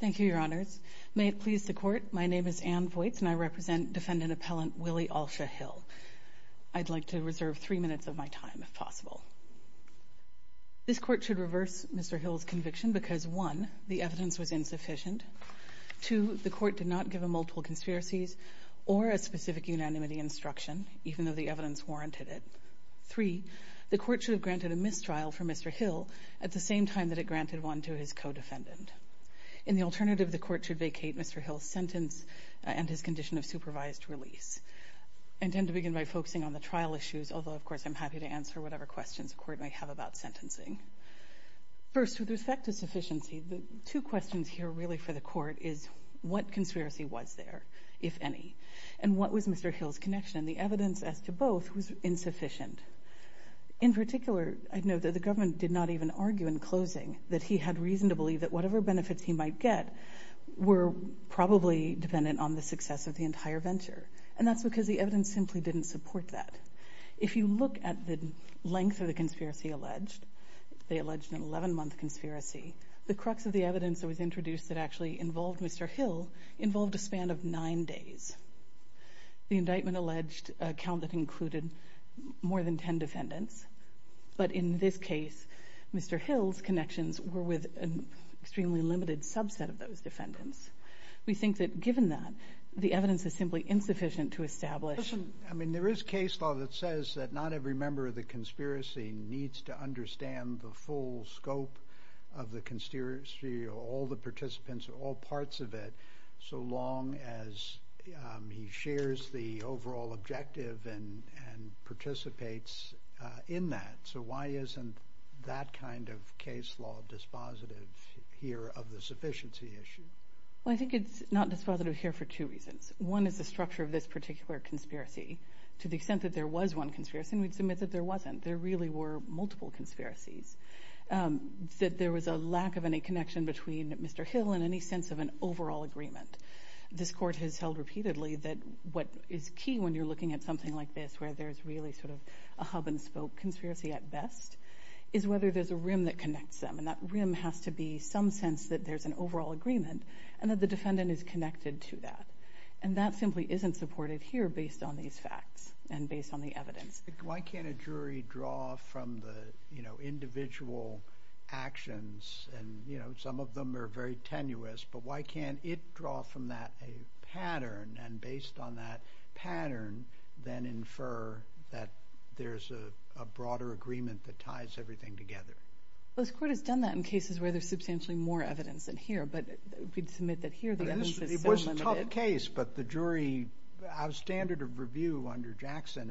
Thank you, Your Honors. May it please the Court, my name is Ann Voights and I represent Defendant Appellant Willie Alsha Hill. I'd like to reserve three minutes of my time if possible. This Court should reverse Mr. Hill's conviction because 1. The evidence was insufficient. 2. The Court did not give him multiple conspiracies or a specific unanimity instruction, even though the evidence warranted it. 3. The Court should have granted a mistrial for Mr. Hill at the same time that it granted one to his co-defendant. In the alternative, the Court should vacate Mr. Hill's sentence and his condition of supervised release. I intend to begin by focusing on the trial issues, although of course I'm happy to answer whatever questions the Court may have about sentencing. First, with respect to sufficiency, the two questions here really for the Court is what conspiracy was there, if any, and what was Mr. Hill's connection, and the evidence as to both was insufficient. In particular, I know that the government did not even argue in closing that he had reason to believe that whatever benefits he might get were probably dependent on the success of the entire venture, and that's because the evidence simply didn't support that. If you look at the length of the conspiracy alleged, they alleged an 11-month conspiracy, the crux of the evidence that was introduced that actually involved Mr. Hill involved a span of 9 days. The indictment alleged a count that included more than 10 defendants, but in this case, Mr. Hill's connections were with an extremely limited subset of those defendants. We think that given that, the evidence is simply insufficient to establish... I mean, there is case law that says that not every member of the conspiracy needs to understand the full scope of the conspiracy or all the participants or all parts of it, so long as he shares the overall objective and participates in that. So why isn't that kind of case law dispositive here of the sufficiency issue? Well, I think it's not dispositive here for two reasons. One is the structure of this particular conspiracy. To the extent that there was one conspiracy, and we'd submit that there wasn't, there really were multiple conspiracies, that there was a lack of any connection between Mr. Hill and any sense of an overall agreement. This court has held repeatedly that what is key when you're looking at something like this, where there's really sort of a hub-and-spoke conspiracy at best, is whether there's a rim that connects them, and that rim has to be some sense that there's an overall agreement and that the defendant is connected to that. And that simply isn't supported here based on these facts and based on the evidence. Why can't a jury draw from the, you know, individual actions and, you know, some of them are very tenuous, but why can't it draw from that a pattern and based on that pattern then infer that there's a broader agreement that ties everything together? Well, this court has done that in cases where there's substantially more evidence than here, but we'd submit that here the evidence is so limited. It's a good case, but the jury, our standard of review under Jackson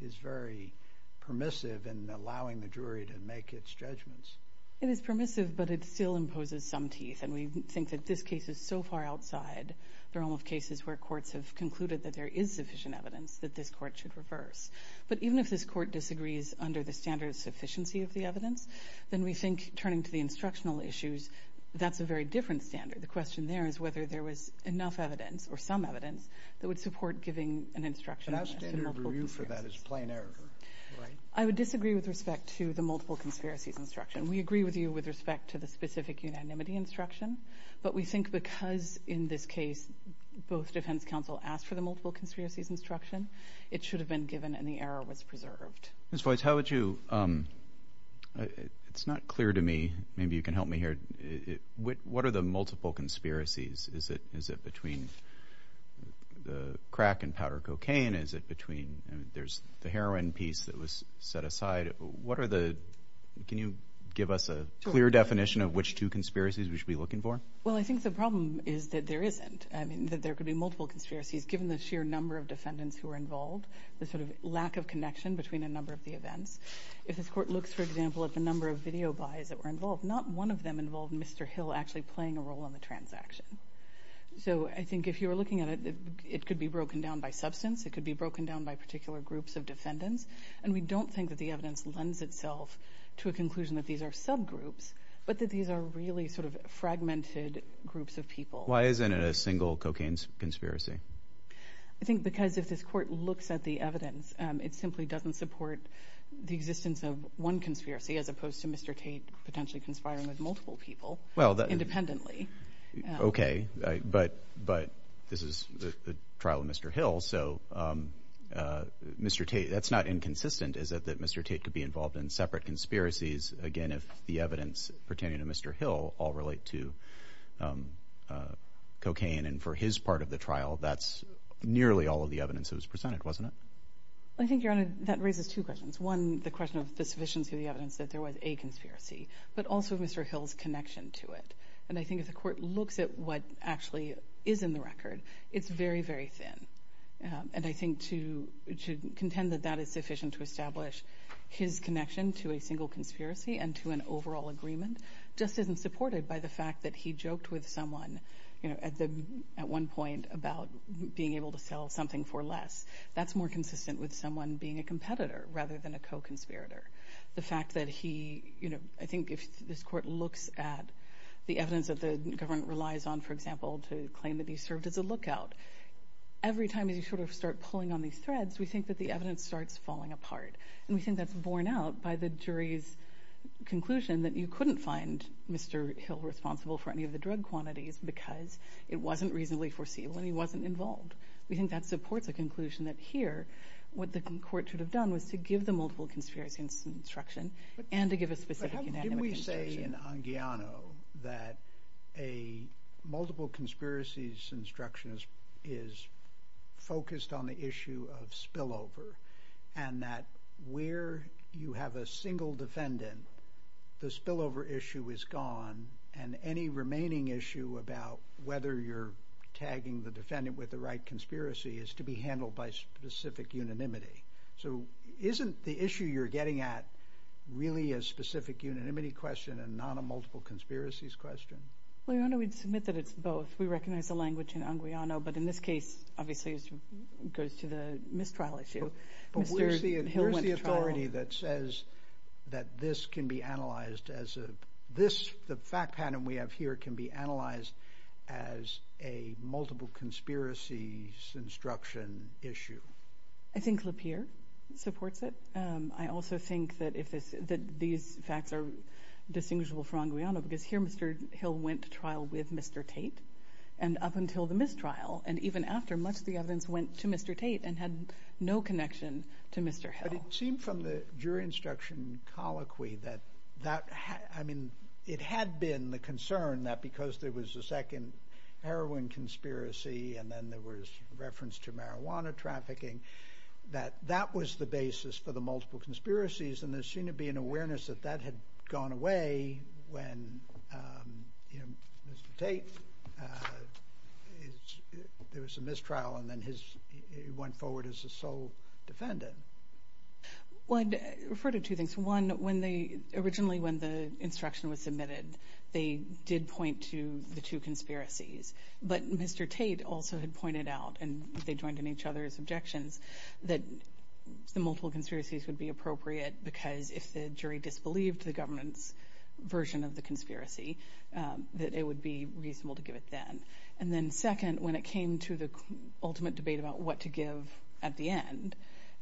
is very permissive in allowing the jury to make its judgments. It is permissive, but it still imposes some teeth, and we think that this case is so far outside the realm of cases where courts have concluded that there is sufficient evidence that this court should reverse. But even if this court disagrees under the standard of sufficiency of the evidence, then we think, turning to the instructional issues, that's a very different standard. The question there is whether there was enough evidence or some evidence that would support giving an instruction. But our standard of review for that is plain error, right? I would disagree with respect to the multiple conspiracies instruction. We agree with you with respect to the specific unanimity instruction, but we think because in this case both defense counsel asked for the multiple conspiracies instruction, it should have been given and the error was preserved. Ms. Voigt, how would you, it's not clear to me, maybe you can help me here, what are the multiple conspiracies? Is it between the crack and powder cocaine? Is it between, there's the heroin piece that was set aside? What are the, can you give us a clear definition of which two conspiracies we should be looking for? Well, I think the problem is that there isn't. I mean, that there could be multiple conspiracies given the sheer number of defendants who are involved, the sort of lack of connection between a number of the events. If this court looks, for example, at the number of video buys that were involved, not one of them involved Mr. Hill actually playing a role in the transaction. So I think if you were looking at it, it could be broken down by substance, it could be broken down by particular groups of defendants, and we don't think that the evidence lends itself to a conclusion that these are subgroups, but that these are really sort of fragmented groups of people. Why isn't it a single cocaine conspiracy? I think because if this court looks at the evidence, it simply doesn't support the existence of one conspiracy as opposed to Mr. Tate potentially conspiring with multiple people independently. Okay, but this is the trial of Mr. Hill, so Mr. Tate, that's not inconsistent, is it, that Mr. Tate could be involved in separate conspiracies, again, if the evidence pertaining to Mr. Hill all relate to cocaine and for his part of the trial, that's nearly all of the evidence that was presented, wasn't it? I think, Your Honor, that raises two questions. One, the question of the sufficiency of the evidence that there was a conspiracy, but also Mr. Hill's connection to it. And I think if the court looks at what actually is in the record, it's very, very thin. And I think to contend that that is sufficient to establish his connection to a single conspiracy and to an overall agreement just isn't supported by the fact that he joked with someone at one point about being able to sell something for less. That's more consistent with someone being a competitor rather than a co-conspirator. The fact that he, you know, I think if this court looks at the evidence that the government relies on, for example, to claim that he served as a lookout, every time you sort of start pulling on these threads, we think that the conclusion that you couldn't find Mr. Hill responsible for any of the drug quantities because it wasn't reasonably foreseeable and he wasn't involved. We think that supports a conclusion that here, what the court should have done was to give the multiple conspiracies instruction and to give a specific unanimous instruction. But how did we say in Anguiano that a multiple conspiracies instruction is focused on the spillover issue is gone and any remaining issue about whether you're tagging the defendant with the right conspiracy is to be handled by specific unanimity? So isn't the issue you're getting at really a specific unanimity question and not a multiple conspiracies question? Well, I don't know we'd submit that it's both. We recognize the language in Anguiano, but in this case, obviously, it goes to the mistrial issue. But where's the authority that says that this can be analyzed as a, this, the fact pattern we have here can be analyzed as a multiple conspiracies instruction issue? I think Lapeer supports it. I also think that if this, that these facts are distinguishable from Anguiano because here, Mr. Hill went to trial with Mr. Tate and up until the mistrial and even after much of the evidence went to Mr. Tate and had no connection to Mr. Hill. But it seemed from the jury instruction colloquy that, that, I mean, it had been the concern that because there was a second heroin conspiracy and then there was reference to marijuana trafficking that that was the basis for the multiple conspiracies and there seemed to be an awareness that that had gone away when, you know, Mr. Tate, you know, Mr. Tate was there was a mistrial and then his, he went forward as a sole defendant. Well, I'd refer to two things. One, when they, originally when the instruction was submitted, they did point to the two conspiracies. But Mr. Tate also had pointed out and they joined in each other's objections that the multiple conspiracies would be appropriate because if the jury disbelieved the government's version of the conspiracy, that it would be aimed to the ultimate debate about what to give at the end.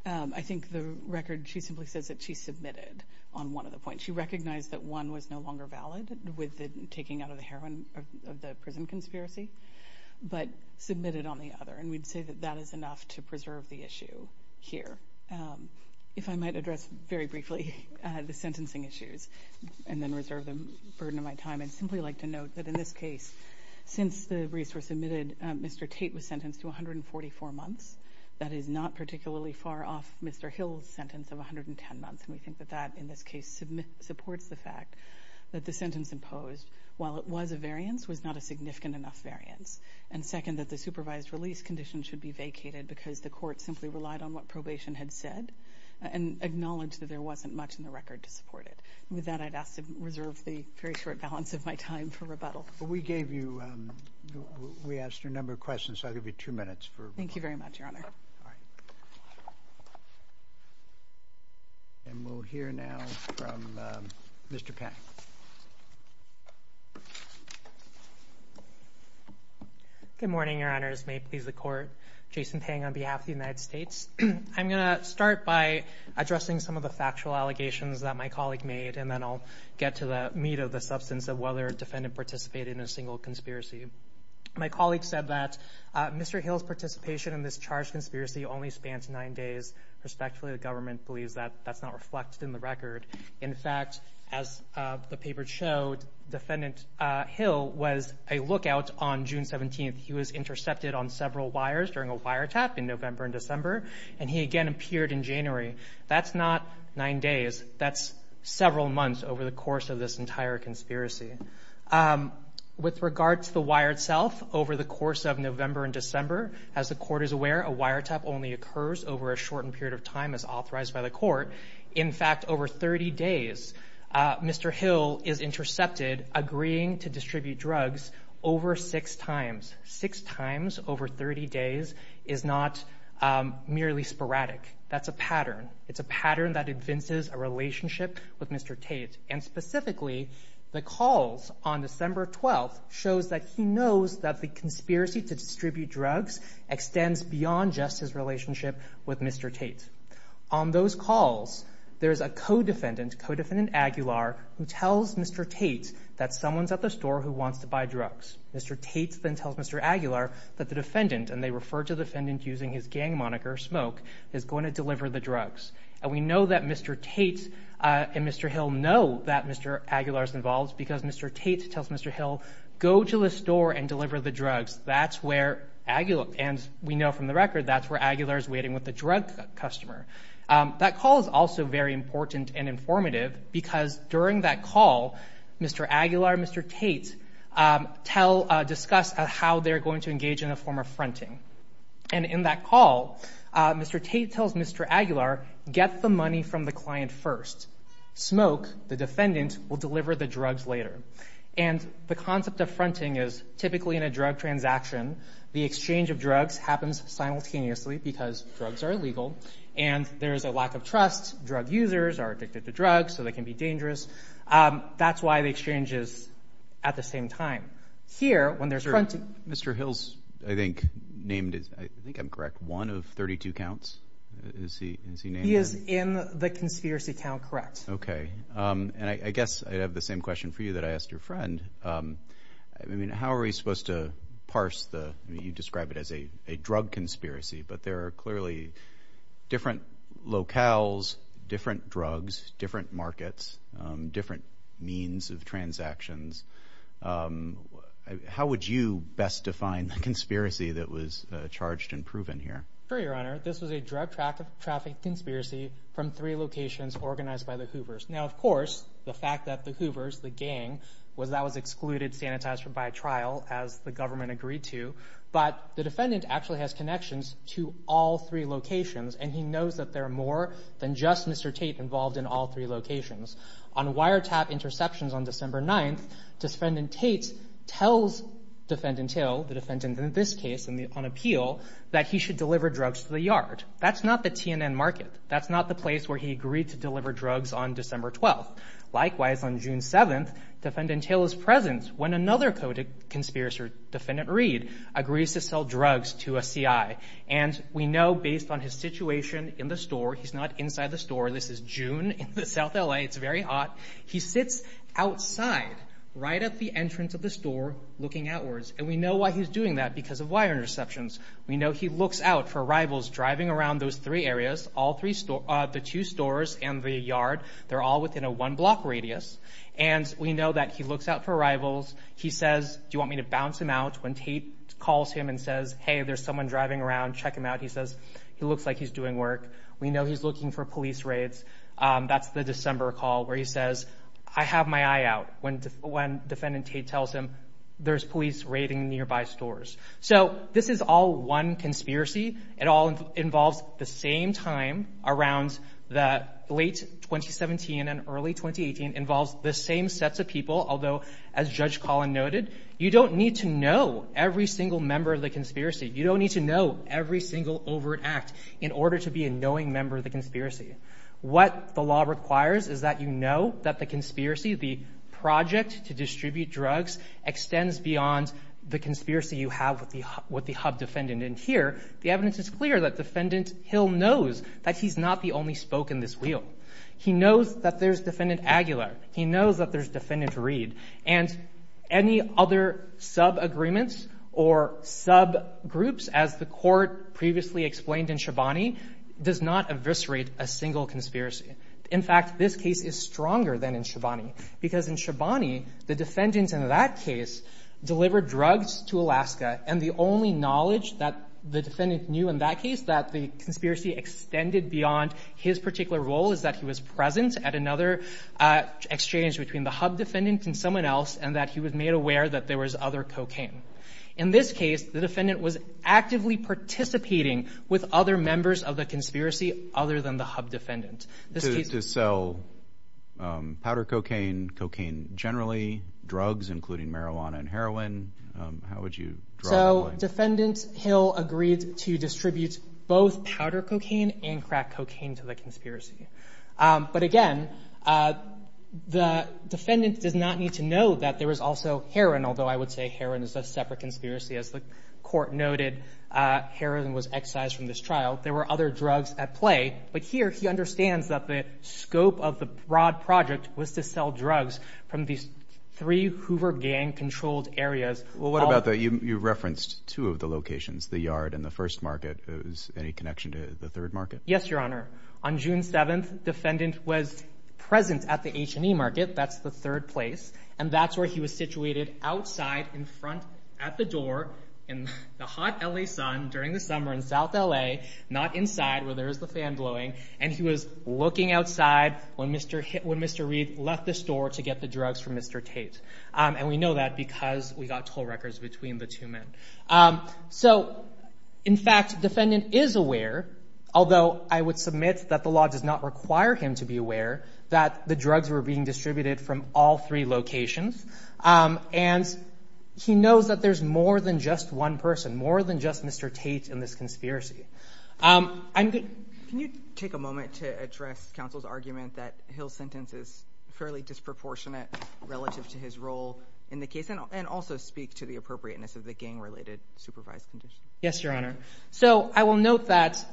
I think the record, she simply says that she submitted on one of the points. She recognized that one was no longer valid with the taking out of the heroin of the prison conspiracy, but submitted on the other. And we'd say that that is enough to preserve the issue here. If I might address very briefly the sentencing issues and then reserve the burden of my time, I'd simply like to note that in this case, since the resource submitted, Mr. Tate was sentenced to 144 months. That is not particularly far off Mr. Hill's sentence of 110 months. And we think that that, in this case, supports the fact that the sentence imposed, while it was a variance, was not a significant enough variance. And second, that the supervised release condition should be vacated because the court simply relied on what probation had said and acknowledged that there wasn't much in the record to support it. With that, I'd ask to reserve the very short balance of my time for rebuttal. We gave you, we asked a number of questions, so I'll give you two minutes. Thank you very much, Your Honor. All right. And we'll hear now from Mr. Pang. Good morning, Your Honors. May it please the Court. Jason Pang on behalf of the United States. I'm going to start by addressing some of the factual allegations that my colleague made, and then I'll get to the meat of the substance of whether a defendant participated in a single conspiracy. My colleague said that Mr. Hill's participation in this charged conspiracy only spanned nine days. Respectfully, the government believes that that's not reflected in the record. In fact, as the paper showed, Defendant Hill was a lookout on June 17th. He was intercepted on several wires during a wiretap in November and December, and he again appeared in January. That's not nine days. That's several months over the course of this entire conspiracy. With regard to the wire itself, over the course of November and December, as the Court is aware, a wiretap only occurs over a shortened period of time as authorized by the Court. In fact, over 30 days, Mr. Hill is intercepted agreeing to distribute drugs over six times. Six times over 30 days is not merely sporadic. That's a pattern. It's a pattern that evinces a relationship with Mr. Tate. And specifically, the calls on December 12th shows that he knows that the conspiracy to distribute drugs extends beyond just his relationship with Mr. Tate. On those calls, there's a co-defendant, Co-Defendant Aguilar, who tells Mr. Tate that someone's at the store who wants to buy drugs. Mr. Tate then tells Mr. Aguilar that the defendant, and they refer to the defendant using his gang moniker, Smoke, is going to deliver the drugs. And we know that Mr. Tate and Mr. Hill know that Mr. Aguilar's involved because Mr. Tate tells Mr. Hill, go to the store and deliver the drugs. That's where, and we know from the record, that's where Aguilar's waiting with the drug customer. That call is also very important and informative because during that call, Mr. Aguilar and Mr. Tate discuss how they're going to engage in a form of fronting. And in that call, Mr. Tate tells Mr. Aguilar, get the money from the client first. Smoke, the defendant, will deliver the drugs later. And the concept of legal and there's a lack of trust. Drug users are addicted to drugs, so they can be dangerous. That's why the exchange is at the same time. Here, when there's fronting. Mr. Hill's, I think, named, I think I'm correct, one of 32 counts. Is he named? He is in the conspiracy count, correct. Okay. And I guess I have the same question for you that I asked your friend. I mean, how are we supposed to parse the, you describe it as a drug conspiracy, but there are clearly different locales, different drugs, different markets, different means of transactions. How would you best define the conspiracy that was charged and proven here? Sure, your honor. This was a drug traffic conspiracy from three locations organized by the Hoovers. Now, of course, the fact that the Hoovers, the gang, was that was excluded, sanitized by trial, as the government agreed to. But the defendant actually has connections to all three locations, and he knows that there are more than just Mr. Tate involved in all three locations. On wiretap interceptions on December 9th, defendant Tate tells defendant Hill, the defendant in this case, on appeal, that he should deliver drugs to the yard. That's not the TNN market. That's not the place where he agreed to deliver drugs on December 12th. Likewise, on June 7th, defendant Taylor's presence, when another code of conspiracy, defendant Reed, agrees to sell drugs to a CI. And we know, based on his situation in the store, he's not inside the store, this is June in South LA, it's very hot, he sits outside, right at the entrance of the store, looking outwards. And we know why he's doing that, because of wire interceptions. We know he looks out for rivals driving around those three areas, all three stores, the two stores and the yard, they're all within a mile radius. He looks out for rivals, he says, do you want me to bounce him out? When Tate calls him and says, hey, there's someone driving around, check him out, he says, he looks like he's doing work. We know he's looking for police raids. That's the December call, where he says, I have my eye out, when defendant Tate tells him, there's police raiding nearby stores. So, this is all one conspiracy. It all involves the same time, around the late 2017 and early 2018, involves the same sets of people, although, as Judge Collin noted, you don't need to know every single member of the conspiracy. You don't need to know every single overt act in order to be a knowing member of the conspiracy. What the law requires is that you know that the conspiracy, the project to distribute drugs, extends beyond the conspiracy you have with the hub defendant. And here, the evidence is clear that defendant Hill knows that he's not the only spoke in this wheel. He knows that there's defendant Aguilar. He knows that there's defendant Reed. And any other sub-agreements or sub-groups, as the court previously explained in Shabani, does not eviscerate a single conspiracy. In fact, this case is stronger than in Shabani, because in Shabani, the defendants in that case delivered drugs to Alaska, and the only knowledge that the defendant knew in that case, that the conspiracy extended beyond his particular role, is that he was present at another exchange between the hub defendant and someone else, and that he was made aware that there was other cocaine. In this case, the defendant was actively participating with other members of the conspiracy, other than the hub defendant. To sell powder cocaine, cocaine generally, drugs, including marijuana and heroin, how would you draw that line? So defendant Hill agreed to distribute both powder cocaine and crack cocaine to the conspiracy. But again, the defendant does not need to know that there was also heroin, although I would say heroin is a separate conspiracy. As the court noted, heroin was excised from this trial. There were other drugs at play. But here, he understands that the scope of the broad project was to sell drugs from these three Hoover gang-controlled areas. Well, what about the, you referenced two of the locations, the yard and the first market. Is there any connection to the third market? Yes, your honor. On June 7th, defendant was present at the H&E market, that's the third place, and that's where he was situated, outside, in front, at the door, in the hot LA sun, during the summer in South LA, not inside, where there is the fan blowing, and he was looking outside when Mr. Reid left the store to get the drugs from Mr. Tate. And we know that because we got toll records between the two men. So, in fact, defendant is aware, although I would submit that the law does not require him to be aware, that the drugs were being distributed from all three locations. And he knows that there's more than just one person, more than just Mr. Tate in this conspiracy. Can you take a moment to address counsel's argument that Hill's sentence is fairly disproportionate relative to his role in the case, and also speak to the appropriateness of the gang-related supervised condition? Yes, your honor. So, I will note that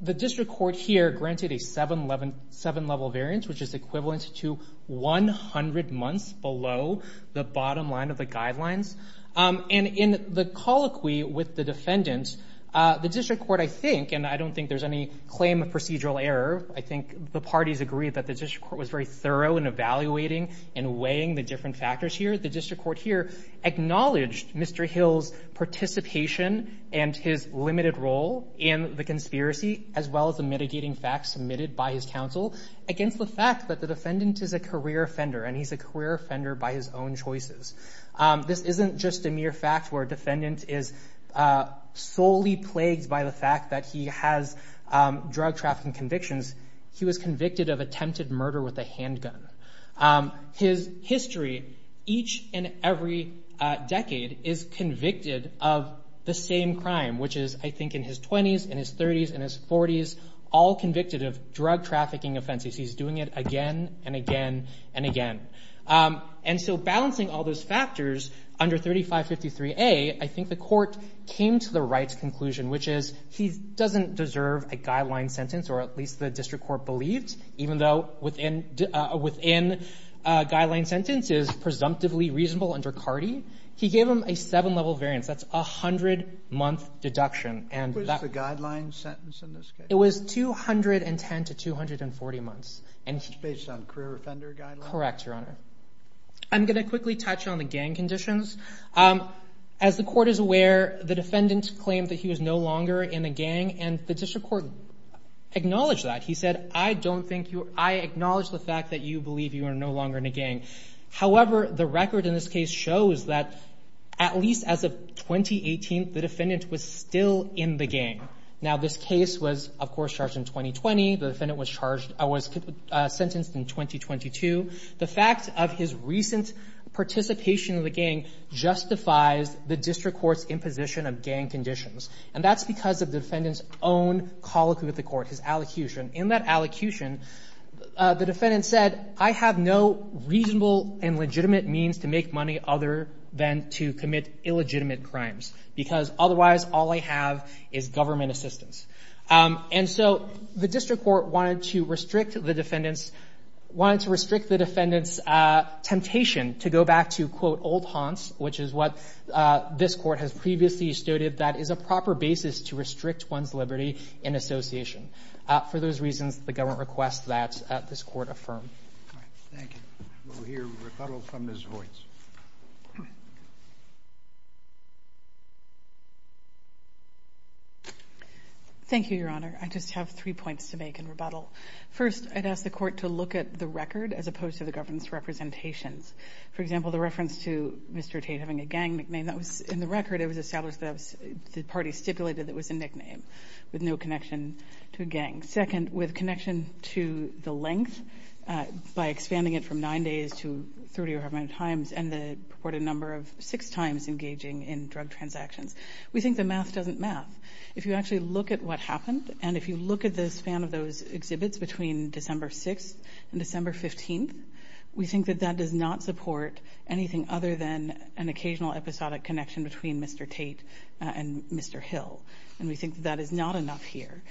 the district court here granted a seven-level variance, which is equivalent to 100 months below the bottom line of the guidelines. And in the colloquy with the defendant, the district court, I think, and I don't think there's any claim of procedural error. I think the parties agreed that the district court was very thorough in evaluating and weighing the different factors here. The district court here acknowledged Mr. Hill's participation and his limited role in the conspiracy, as well as the mitigating facts submitted by his counsel, against the fact that the defendant is a career offender, and he's a career offender by his own choices. This isn't just a mere fact where a defendant is solely plagued by the fact that he has drug trafficking convictions. He was convicted of attempted murder with a handgun. His history, each and every decade, is convicted of the same crime, which is, I think, in his 20s, in his 30s, in his 40s, all convicted of drug trafficking offenses. He's doing it again and again and again. And so, balancing all those factors under 3553A, I think the court came to the right conclusion, which is he doesn't deserve a guideline sentence, or at least the district court believed, even though within a guideline sentence is presumptively reasonable under CARDI. He gave him a seven-level variance. That's a 100-month deduction. What was the guideline sentence in this case? It was 210 to 240 months. And it's based on career offender guidelines? Correct, Your Honor. I'm going to quickly touch on the gang conditions. As the court is aware, the defendant claimed that he was no longer in a gang, and the district court acknowledged that. He said, I acknowledge the fact that you believe you are no longer in a gang. However, the record in this case shows that at least as of 2018, the defendant was still in the gang. Now, this case was, of course, charged in 2020. The defendant was charged or was sentenced in 2022. The fact of his recent participation in the gang justifies the district court's imposition of gang conditions, and that's because of the defendant's own colloquy with the court, his allocution. The defendant said, I have no reasonable and legitimate means to make money other than to commit illegitimate crimes, because otherwise, all I have is government assistance. And so the district court wanted to restrict the defendant's temptation to go back to, quote, old haunts, which is what this court has previously stated that is a proper basis to restrict one's liberty in association. For those reasons, the government requests that this court affirm. All right. Thank you. We'll hear rebuttal from Ms. Voights. Thank you, Your Honor. I just have three points to make in rebuttal. First, I'd ask the court to look at the record as opposed to the government's representations. For example, the reference to Mr. Tate having a gang nickname, that was in the record. It was stipulated that it was a nickname with no connection to a gang. Second, with connection to the length, by expanding it from nine days to 30 or however many times, and the purported number of six times engaging in drug transactions. We think the math doesn't math. If you actually look at what happened, and if you look at the span of those exhibits between December 6th and December 15th, we think that that does not support anything other than an and we think that is not enough here.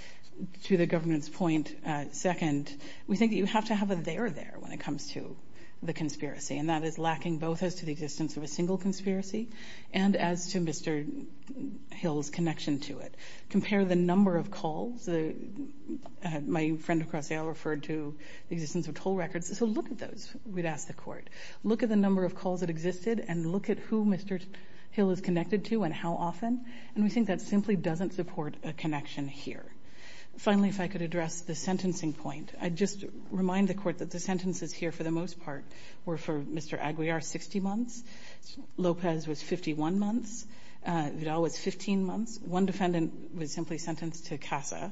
To the government's point, second, we think that you have to have a there there when it comes to the conspiracy, and that is lacking both as to the existence of a single conspiracy and as to Mr. Hill's connection to it. Compare the number of calls. My friend across the aisle referred to the existence of toll records. So look at those, we'd ask the court. Look at the number of calls that existed, and look at who Mr. Hill is doesn't support a connection here. Finally, if I could address the sentencing point, I'd just remind the court that the sentences here for the most part were for Mr. Aguiar, 60 months. Lopez was 51 months. Vidal was 15 months. One defendant was simply sentenced to CASA.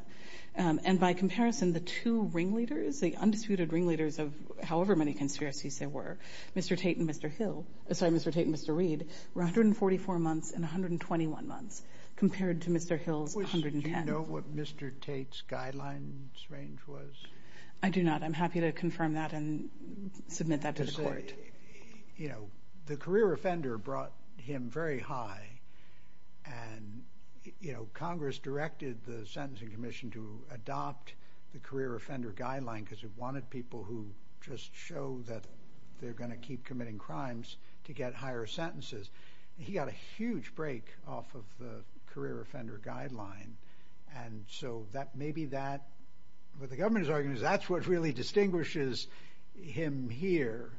And by comparison, the two ringleaders, the undisputed ringleaders of however many conspiracies there were, Mr. Tate and Mr. Reed, were 144 months and 121 months compared to Mr. Hill's 110. Do you know what Mr. Tate's guidelines range was? I do not. I'm happy to confirm that and submit that to the court. The career offender brought him very high, and Congress directed the sentencing commission to adopt the career offender guideline because it wanted people who just show that they're going to committing crimes to get higher sentences. He got a huge break off of the career offender guideline. And so that maybe that, what the government is arguing is that's what really distinguishes him here.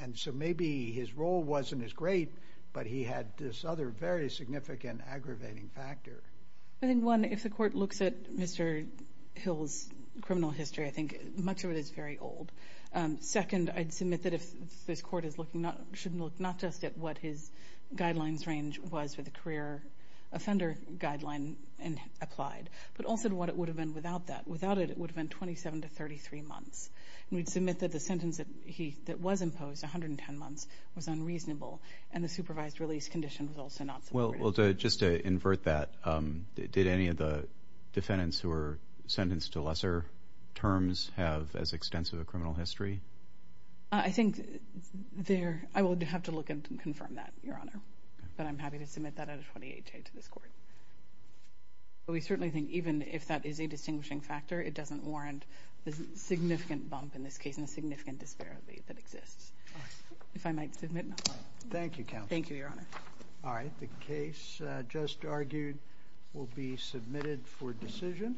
And so maybe his role wasn't as great, but he had this other very significant aggravating factor. I think one, if the court looks at Mr. Hill's criminal history, I think much of it is very old. Second, I'd submit that if this court should look not just at what his guidelines range was for the career offender guideline applied, but also what it would have been without that. Without it, it would have been 27 to 33 months. And we'd submit that the sentence that was imposed, 110 months, was unreasonable, and the supervised release condition was also not supported. Well, just to invert that, did any of the defendants who were have as extensive a criminal history? I think there, I would have to look and confirm that, Your Honor. But I'm happy to submit that at a 28 day to this court. But we certainly think even if that is a distinguishing factor, it doesn't warrant the significant bump in this case and the significant disparity that exists. If I might submit now. Thank you, counsel. Thank you, Your Honor. All right. The case just argued will be submitted for decision.